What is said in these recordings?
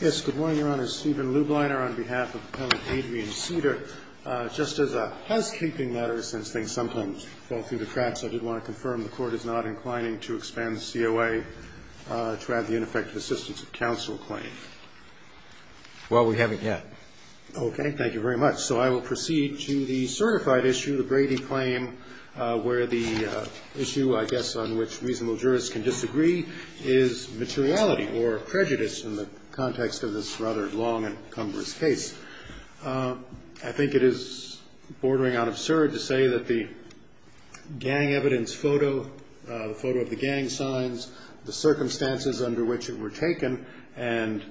Yes, good morning, Your Honor. Stephen Lubliner on behalf of Appellant Adrian Cida. Just as a housekeeping matter, since things sometimes fall through the cracks, I did want to confirm the Court is not inclining to expand the COA to add the ineffective assistance of counsel claim. Well, we haven't yet. Okay, thank you very much. So I will proceed to the certified issue, the Brady claim, where the issue, I guess, on which reasonable jurists can disagree is materiality or prejudice in the context of this rather long and cumbersome case. I think it is bordering on absurd to say that the gang evidence photo, the photo of the gang signs, the circumstances under which it were taken, and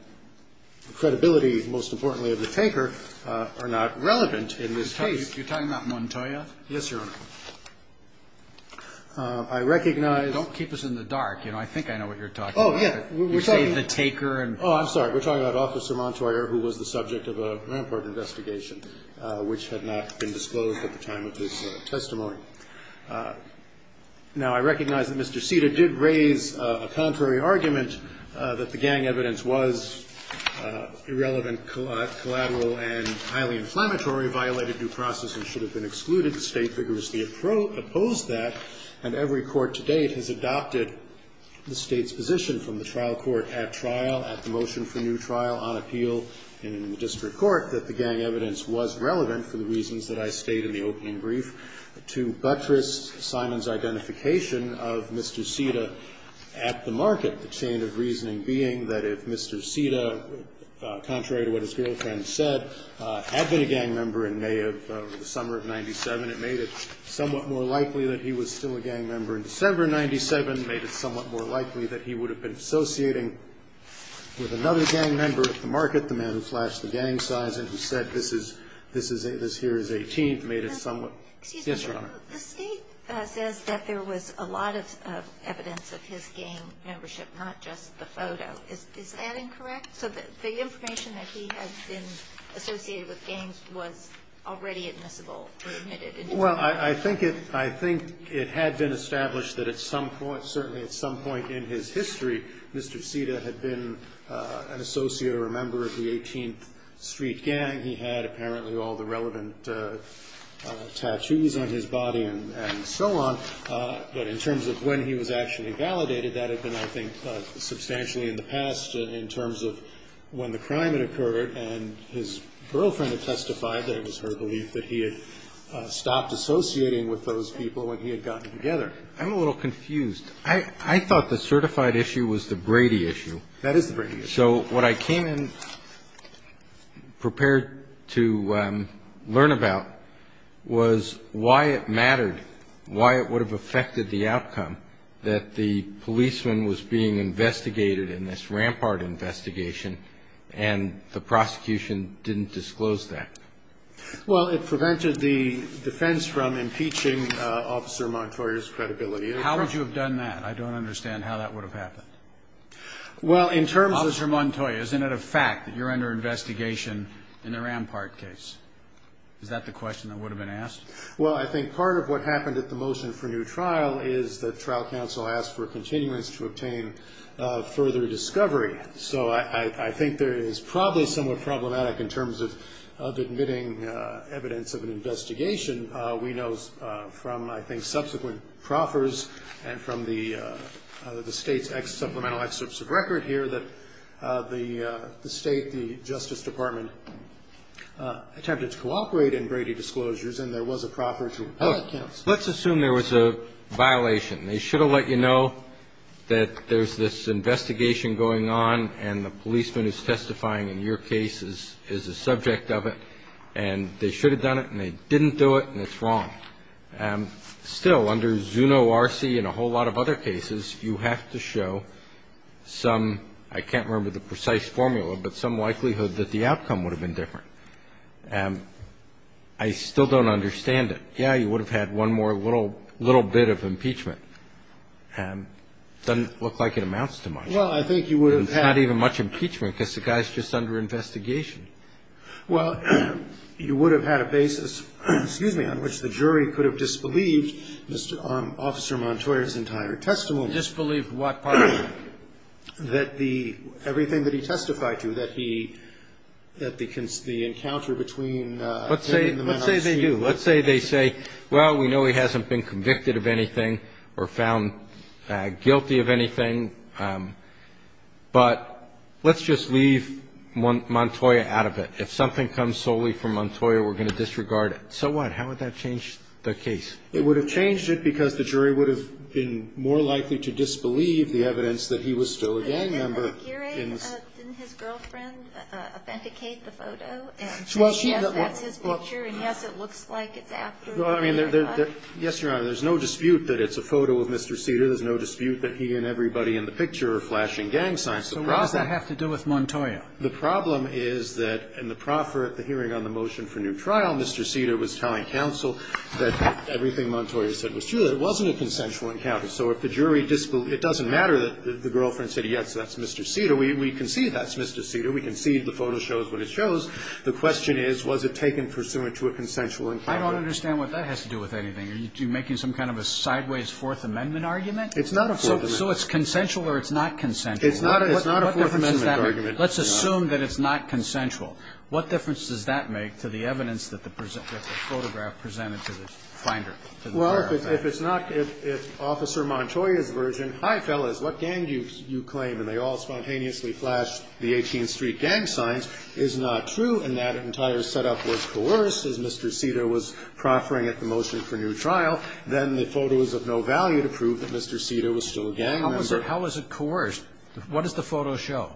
the credibility, most importantly, of the taker are not relevant in this case. You're talking about Montoya? Yes, Your Honor. I recognize... Don't keep us in the dark. You know, I think I know what you're talking about. Oh, yeah. We're talking... You say the taker and... Oh, I'm sorry. We're talking about Officer Montoya, who was the subject of a Rampart investigation, which had not been disclosed at the time of this testimony. Now, I recognize that Mr. Cida did raise a contrary argument that the gang evidence was irrelevant, collateral, and highly inflammatory, violated due process, and should have been excluded. The State vigorously opposed that, and every court to date has adopted the State's position from the trial court at trial at the motion for new trial on appeal in the district court that the gang evidence was relevant for the reasons that I state in the opening brief to buttress Simon's identification of Mr. Cida at the market. The chain of reasoning being that if Mr. Cida, contrary to what his girlfriend said, had been a gang member in May of the summer of 97, it made it somewhat more likely that he was still a gang member in December of 97, made it somewhat more likely that he would have been associating with another gang member at the market, the man who flashed the gang signs and who said this here is 18th, made it somewhat... Excuse me, Your Honor. Yes, Your Honor. The State says that there was a lot of evidence of his gang membership, not just the photo. Is that incorrect? So the information that he has been associated with gangs was already admissible or admitted? Well, I think it had been established that at some point, certainly at some point in his history, Mr. Cida had been an associate or a member of the 18th Street Gang. He had apparently all the relevant tattoos on his body and so on. But in terms of when he was actually validated, that had been, I think, substantially in the past in terms of when the crime had occurred. And his girlfriend had testified that it was her belief that he had stopped associating with those people when he had gotten together. I'm a little confused. I thought the certified issue was the Brady issue. That is the Brady issue. So what I came and prepared to learn about was why it mattered, why it would have affected the outcome, that the policeman was being investigated in this rampart investigation and the prosecution didn't disclose that. Well, it prevented the defense from impeaching Officer Montoya's credibility. How would you have done that? I don't understand how that would have happened. Well, in terms of Officer Montoya, isn't it a fact that you're under investigation in a rampart case? Is that the question that would have been asked? Well, I think part of what happened at the motion for new trial is that trial counsel asked for continuance to obtain further discovery. So I think there is probably somewhat problematic in terms of admitting evidence of an investigation. We know from, I think, subsequent proffers and from the State's supplemental excerpts of record here that the State, the Justice Department attempted to cooperate in Brady disclosures and there was a proffer to report to counsel. Let's assume there was a violation. They should have let you know that there's this investigation going on and the policeman who's testifying in your case is the subject of it. And they should have done it and they didn't do it and it's wrong. Still, under Zuno R.C. and a whole lot of other cases, you have to show some, I can't remember the precise formula, but some likelihood that the outcome would have been different. I still don't understand it. Yeah, you would have had one more little bit of impeachment. Doesn't look like it amounts to much. Well, I think you would have had. It's not even much impeachment because the guy's just under investigation. Well, you would have had a basis, excuse me, on which the jury could have disbelieved Mr. Officer Montoya's entire testimony. Disbelieved what part of it? That the, everything that he testified to, that he, that the encounter between him and the men on the street. Let's say they do. Let's say they say, well, we know he hasn't been convicted of anything or found guilty of anything, but let's just leave Montoya out of it. If something comes solely from Montoya, we're going to disregard it. So what? How would that change the case? It would have changed it because the jury would have been more likely to disbelieve the evidence that he was still a gang member. Didn't his girlfriend authenticate the photo? Yes, that's his picture, and yes, it looks like it's after. Well, I mean, yes, Your Honor, there's no dispute that it's a photo of Mr. Cedar. There's no dispute that he and everybody in the picture are flashing gang signs. So what does that have to do with Montoya? The problem is that in the hearing on the motion for new trial, Mr. Cedar was telling counsel that everything Montoya said was true, that it wasn't a consensual encounter. So if the jury disbelieved, it doesn't matter that the girlfriend said, yes, that's Mr. Cedar. We concede that's Mr. Cedar. We concede the photo shows what it shows. The question is, was it taken pursuant to a consensual encounter? I don't understand what that has to do with anything. Are you making some kind of a sideways Fourth Amendment argument? It's not a Fourth Amendment. So it's consensual or it's not consensual? It's not a Fourth Amendment argument. What difference does that make? Let's assume that it's not consensual. What difference does that make to the evidence that the photograph presented to the finder? Well, if it's not, if Officer Montoya's version, hi, fellas, what gang do you claim, and they all spontaneously flashed the 18th Street gang signs, is not true, and that entire setup was coerced as Mr. Cedar was proffering at the motion for new trial, then the photo is of no value to prove that Mr. Cedar was still a gang member. How was it coerced? What does the photo show?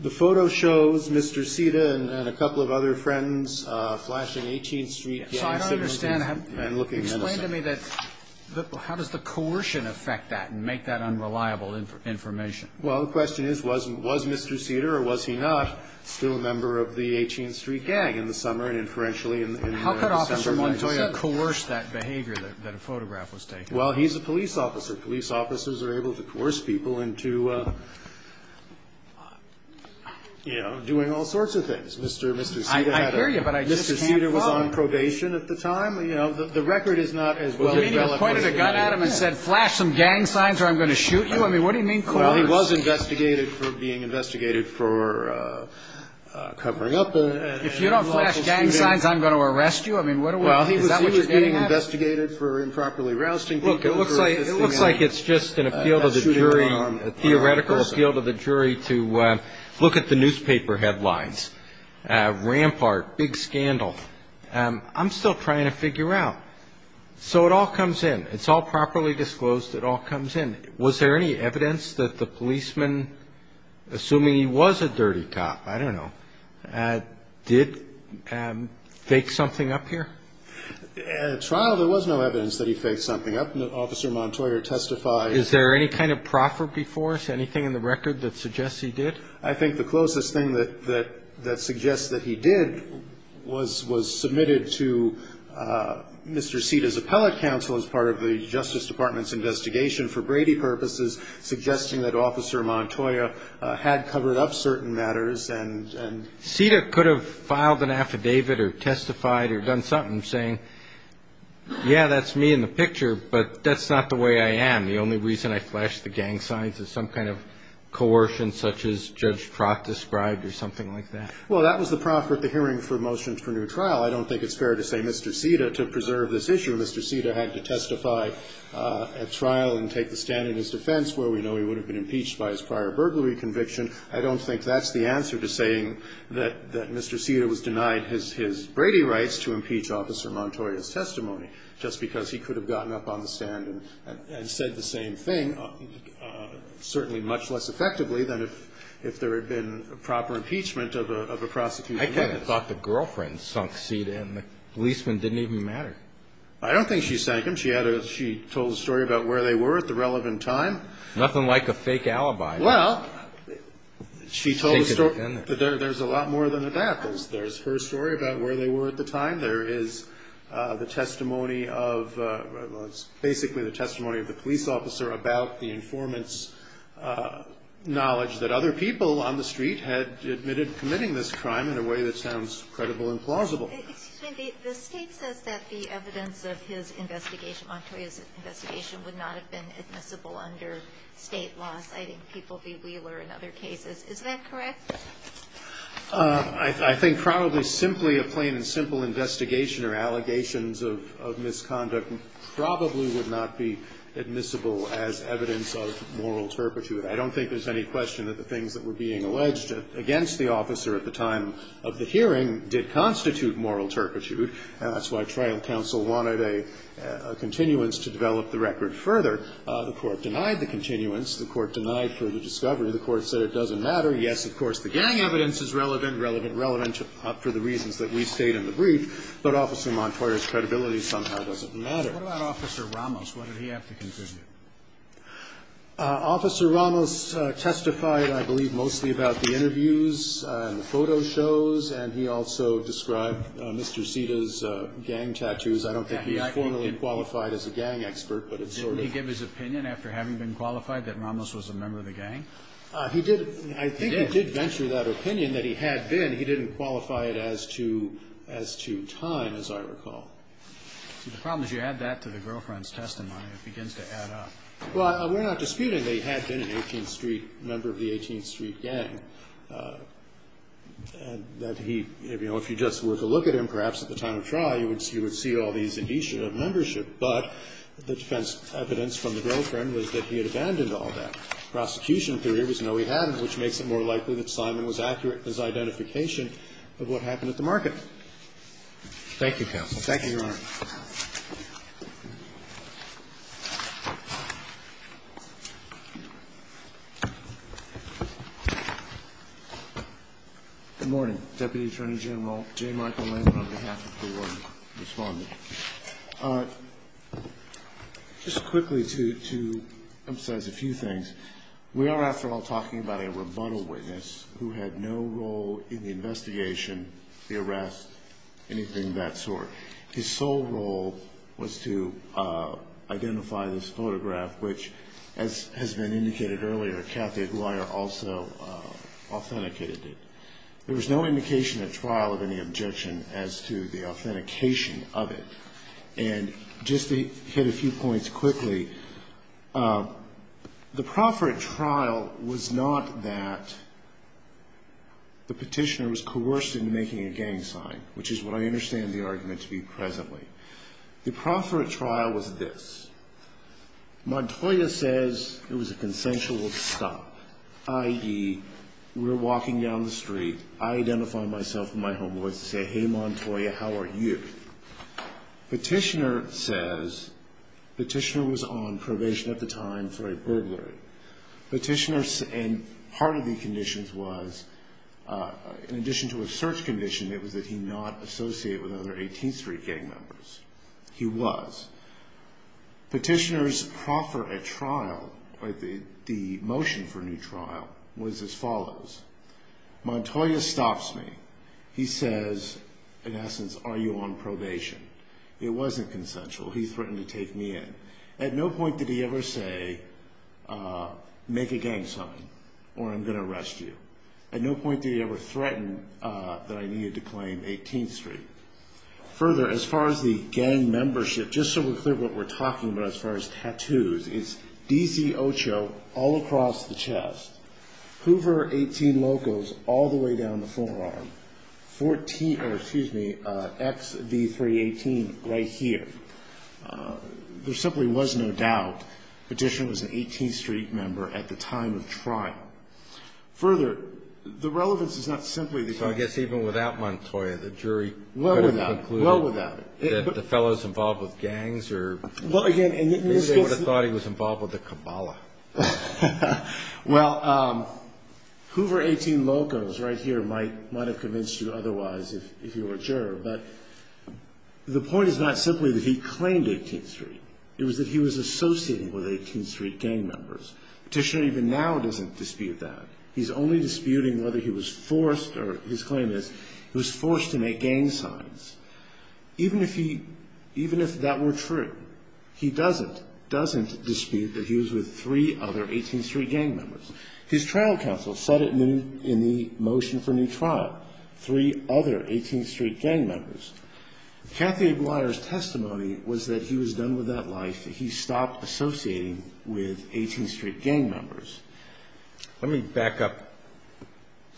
The photo shows Mr. Cedar and a couple of other friends flashing 18th Street gang signs and looking innocent. So I don't understand. Explain to me that, how does the coercion affect that and make that unreliable information? Well, the question is, was Mr. Cedar or was he not still a member of the 18th Street gang in the summer and inferentially in December? How could Officer Montoya coerce that behavior that a photograph was taken of? Well, he's a police officer. Police officers are able to coerce people into, you know, doing all sorts of things. Mr. Cedar had a Mr. Cedar was on probation at the time. You know, the record is not as well-developed. Well, do you mean he pointed a gun at him and said, flash some gang signs or I'm going to shoot you? I mean, what do you mean coerce? Well, he was investigated for being investigated for covering up. If you don't flash gang signs, I'm going to arrest you. I mean, is that what you're getting at? Well, he was being investigated for improperly rousting people. Look, it looks like it's just an appeal to the jury, a theoretical appeal to the jury, to look at the newspaper headlines. Rampart, big scandal. I'm still trying to figure out. So it all comes in. It's all properly disclosed. It all comes in. Was there any evidence that the policeman, assuming he was a dirty cop, I don't know, did fake something up here? At trial, there was no evidence that he faked something up. Officer Montoyer testified. Is there any kind of proffer before us, anything in the record that suggests he did? I think the closest thing that suggests that he did was submitted to Mr. Cedar's appellate counsel as part of the Justice Department's investigation for Brady purposes, suggesting that Officer Montoyer had covered up certain matters. Cedar could have filed an affidavit or testified or done something saying, yeah, that's me in the picture, but that's not the way I am. The only reason I flashed the gang signs is some kind of coercion such as Judge Trott described or something like that. Well, that was the proffer at the hearing for motions for new trial. I don't think it's fair to say Mr. Cedar, to preserve this issue, Mr. Cedar had to testify at trial and take the stand in his defense, where we know he would have been impeached by his prior burglary conviction. I don't think that's the answer to saying that Mr. Cedar was denied his Brady rights to impeach Officer Montoyer's testimony, just because he could have gotten up on the stand and said the same thing, certainly much less effectively than if there had been proper impeachment of a prosecutor. I kind of thought the girlfriend sunk Cedar and the policeman didn't even matter. I don't think she sank him. She told a story about where they were at the relevant time. Nothing like a fake alibi. Well, she told a story. There's a lot more than that. There's her story about where they were at the time. There is the testimony of, well, it's basically the testimony of the police officer about the informant's knowledge that other people on the street had admitted committing this crime in a way that sounds credible and plausible. Excuse me. The State says that the evidence of his investigation, Montoyer's investigation, would not have been admissible under State law, citing People v. Wheeler and other cases. Is that correct? I think probably simply a plain and simple investigation or allegations of misconduct probably would not be admissible as evidence of moral turpitude. I don't think there's any question that the things that were being alleged against the That's why trial counsel wanted a continuance to develop the record further. The Court denied the continuance. The Court denied further discovery. The Court said it doesn't matter. Yes, of course, the gang evidence is relevant, relevant, relevant for the reasons that we state in the brief. But Officer Montoyer's credibility somehow doesn't matter. What about Officer Ramos? What did he have to contribute? Officer Ramos testified, I believe, mostly about the interviews and the photo shows. And he also described Mr. Sita's gang tattoos. I don't think he formally qualified as a gang expert, but it's sort of Didn't he give his opinion after having been qualified that Ramos was a member of the gang? He did. I think he did venture that opinion that he had been. He didn't qualify it as to time, as I recall. The problem is you add that to the girlfriend's testimony. It begins to add up. Well, we're not disputing that he had been an 18th Street member of the 18th Street gang, that he, you know, if you just were to look at him, perhaps at the time of trial, you would see all these indicia of membership. But the defense evidence from the girlfriend was that he had abandoned all that. Prosecution theory was no, he hadn't, which makes it more likely that Simon was accurate in his identification of what happened at the market. Thank you, counsel. Thank you, Your Honor. Good morning. Deputy Attorney General J. Michael Landon on behalf of the Royal Respondent. Just quickly to emphasize a few things. We are, after all, talking about a rebuttal witness who had no role in the investigation, the arrest, anything of that sort. His sole role was to identify this photograph, which, as has been indicated earlier, Kathy Aguirre also authenticated it. There was no indication at trial of any objection as to the authentication of it. And just to hit a few points quickly, the proffer at trial was not that the petitioner was coerced into making a gang sign, which is what I understand the argument to be presently. The proffer at trial was this. Montoya says it was a consensual stop, i.e., we're walking down the street. I identify myself in my home voice and say, hey, Montoya, how are you? Petitioner says, petitioner was on probation at the time for a burglary. Part of the conditions was, in addition to a search condition, it was that he not associate with other 18th Street gang members. He was. Petitioner's proffer at trial, the motion for a new trial, was as follows. Montoya stops me. He says, in essence, are you on probation? It wasn't consensual. He threatened to take me in. At no point did he ever say, make a gang sign or I'm going to arrest you. At no point did he ever threaten that I needed to claim 18th Street. Further, as far as the gang membership, just so we're clear what we're talking about as far as tattoos, it's D.C. Ocho all across the chest, Hoover 18 Locos all the way down the forearm, XV318 right here. There simply was no doubt Petitioner was an 18th Street member at the time of trial. Further, the relevance is not simply the gang. So I guess even without Montoya, the jury. Well, without it. Well, without it. The fellows involved with gangs or. Well, again. They would have thought he was involved with the Kabbalah. Well, Hoover 18 Locos right here might have convinced you otherwise if you were a juror. But the point is not simply that he claimed 18th Street. It was that he was associating with 18th Street gang members. Petitioner even now doesn't dispute that. He's only disputing whether he was forced or his claim is he was forced to make gang signs. Even if he, even if that were true, he doesn't, doesn't dispute that he was with three other 18th Street gang members. His trial counsel said it in the motion for new trial. Three other 18th Street gang members. Kathy Aguirre's testimony was that he was done with that life. He stopped associating with 18th Street gang members. Let me back up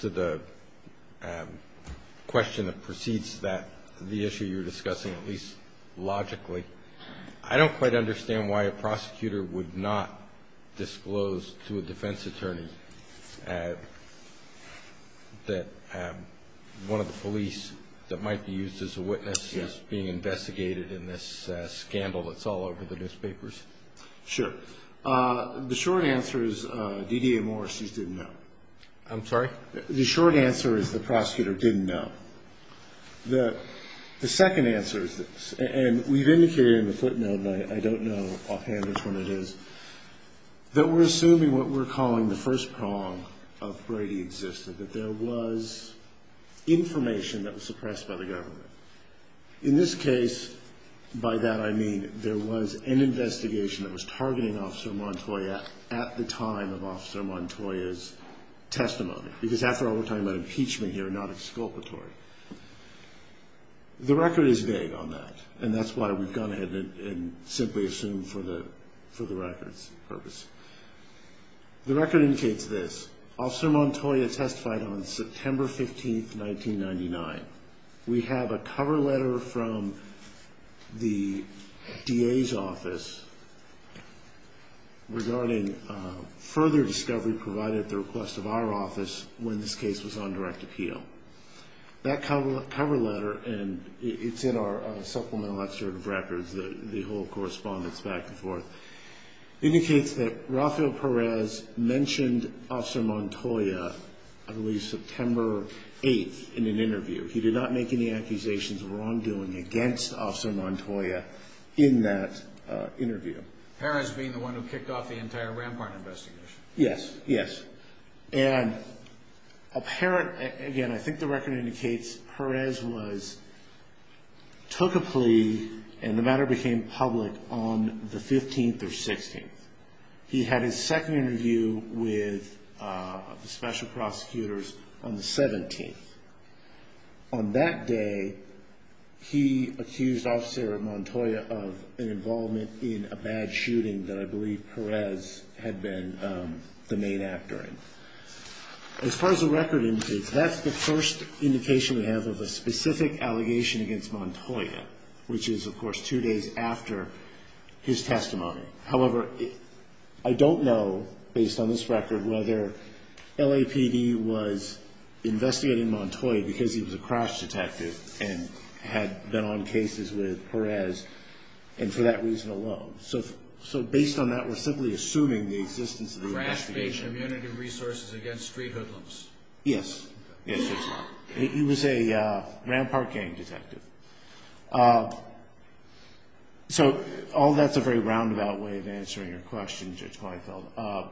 to the question that precedes that, the issue you're discussing, at least logically. I don't quite understand why a prosecutor would not disclose to a defense attorney that one of the police that might be used as a witness is being investigated in this scandal that's all over the newspapers. Sure. The short answer is D.D.A. Morris just didn't know. I'm sorry? The short answer is the prosecutor didn't know. The second answer is this, and we've indicated in the footnote, and I don't know offhand which one it is, that we're assuming what we're calling the first prong of Brady existed, that there was information that was suppressed by the government. In this case, by that I mean there was an investigation that was targeting Officer Montoya at the time of Officer Montoya's testimony. Because after all, we're talking about impeachment here, not exculpatory. The record is vague on that, and that's why we've gone ahead and simply assumed for the record's purpose. The record indicates this. Officer Montoya testified on September 15, 1999. We have a cover letter from the D.A.'s office regarding further discovery provided at the request of our office when this case was on direct appeal. That cover letter, and it's in our supplemental excerpt of records, the whole correspondence back and forth, indicates that Rafael Perez mentioned Officer Montoya at least September 8 in an interview. He did not make any accusations of wrongdoing against Officer Montoya in that interview. Perez being the one who kicked off the entire Rampart investigation? Yes, yes. Again, I think the record indicates Perez took a plea and the matter became public on the 15th or 16th. He had his second interview with the special prosecutors on the 17th. On that day, he accused Officer Montoya of an involvement in a bad shooting that I believe Perez had been the main actor in. As far as the record indicates, that's the first indication we have of a specific allegation against Montoya, which is, of course, two days after his testimony. However, I don't know, based on this record, whether LAPD was investigating Montoya because he was a crash detective and had been on cases with Perez and for that reason alone. So based on that, we're simply assuming the existence of the investigation. Crash-based community resources against street hoodlums. Yes, yes. He was a Rampart gang detective. So all that's a very roundabout way of answering your question, Judge Weinfeld.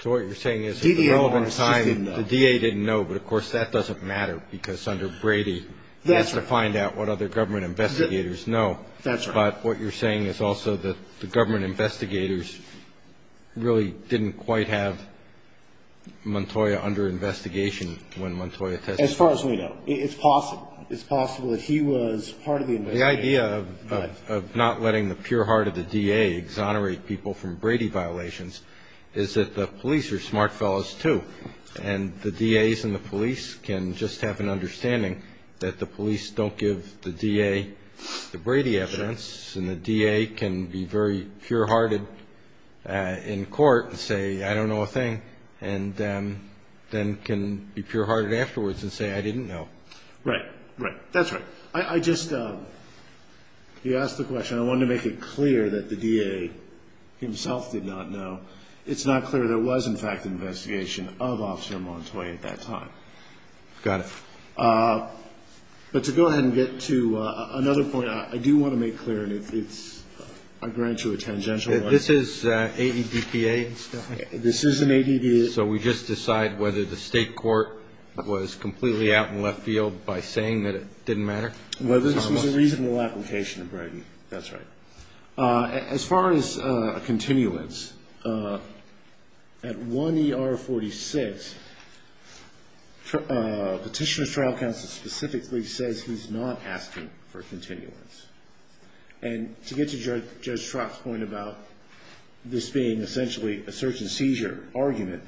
So what you're saying is at the relevant time, the DA didn't know, but of course that doesn't matter because under Brady, he has to find out what other government investigators know. That's right. But what you're saying is also that the government investigators really didn't quite have Montoya under investigation when Montoya testified. As far as we know. It's possible. It's possible that he was part of the investigation. The idea of not letting the pure heart of the DA exonerate people from Brady violations is that the police are smart fellows, too, and the DAs and the police can just have an understanding that the police don't give the DA the Brady evidence and the DA can be very pure hearted in court and say, I don't know a thing, and then can be pure hearted afterwards and say, I didn't know. Right. Right. That's right. I just, you asked the question. I wanted to make it clear that the DA himself did not know. It's not clear there was, in fact, an investigation of Officer Montoya at that time. Got it. But to go ahead and get to another point, I do want to make clear, and I grant you a tangential right. This is AEDPA and stuff? This is an AEDPA. So we just decide whether the state court was completely out in left field by saying that it didn't matter? Well, this was a reasonable application of Brady. That's right. As far as a continuance, at 1 ER 46, Petitioner's Trial Counsel specifically says he's not asking for continuance. And to get to Judge Trott's point about this being essentially a search and seizure argument,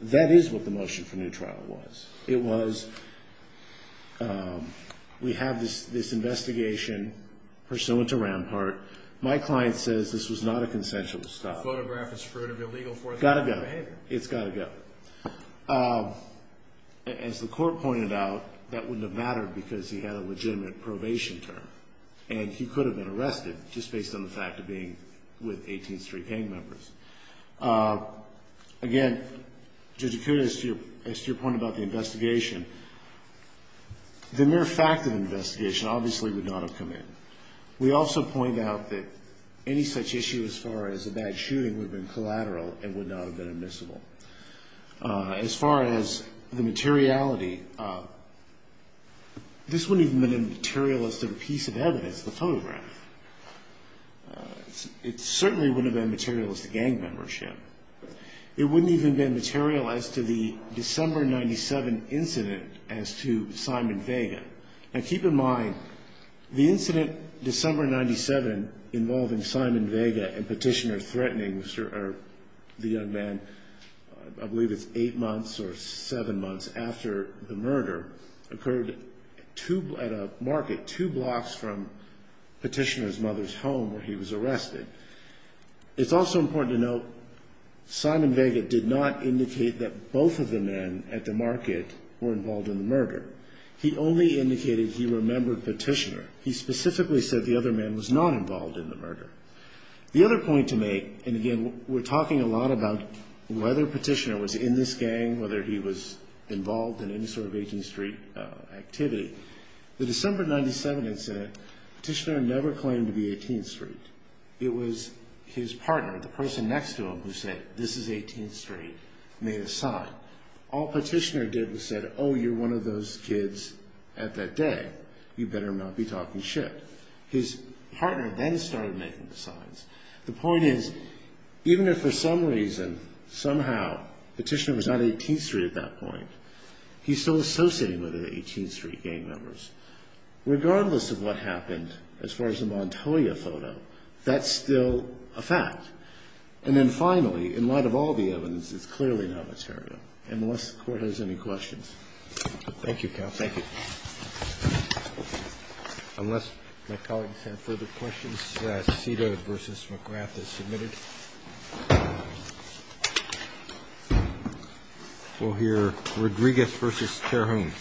that is what the motion for new trial was. It was we have this investigation pursuant to Rampart. My client says this was not a consensual stop. The photograph is prudently illegal for that kind of behavior. Got to go. It's got to go. As the court pointed out, that wouldn't have mattered because he had a legitimate probation term, and he could have been arrested just based on the fact of being with 18th Street gang members. Again, Judge Acuda, as to your point about the investigation, the mere fact of the investigation obviously would not have come in. We also point out that any such issue as far as a bad shooting would have been collateral and would not have been admissible. As far as the materiality, this wouldn't even have been a materialistic piece of evidence, the photograph. It certainly wouldn't have been materialistic gang membership. It wouldn't even have been material as to the December 97 incident as to Simon Vega. Now, keep in mind, the incident December 97 involving Simon Vega and Petitioner Threatening, the young man, I believe it's eight months or seven months after the murder, occurred at a market two blocks from Petitioner's mother's home where he was arrested. It's also important to note Simon Vega did not indicate that both of the men at the market were involved in the murder. He only indicated he remembered Petitioner. He specifically said the other man was not involved in the murder. The other point to make, and again, we're talking a lot about whether Petitioner was in this gang, whether he was involved in any sort of 18th Street activity. The December 97 incident, Petitioner never claimed to be 18th Street. It was his partner, the person next to him who said, this is 18th Street, made a sign. All Petitioner did was said, oh, you're one of those kids at that day. You better not be talking shit. His partner then started making the signs. The point is, even if for some reason, somehow, Petitioner was not 18th Street at that point, he's still associating with the 18th Street gang members. Regardless of what happened as far as the Montoya photo, that's still a fact. And then finally, in light of all the evidence, it's clearly not material. Unless the Court has any questions. Roberts. Thank you, counsel. Thank you. Unless my colleagues have further questions. Cedar v. McGrath is submitted. We'll hear Rodriguez v. Terhune.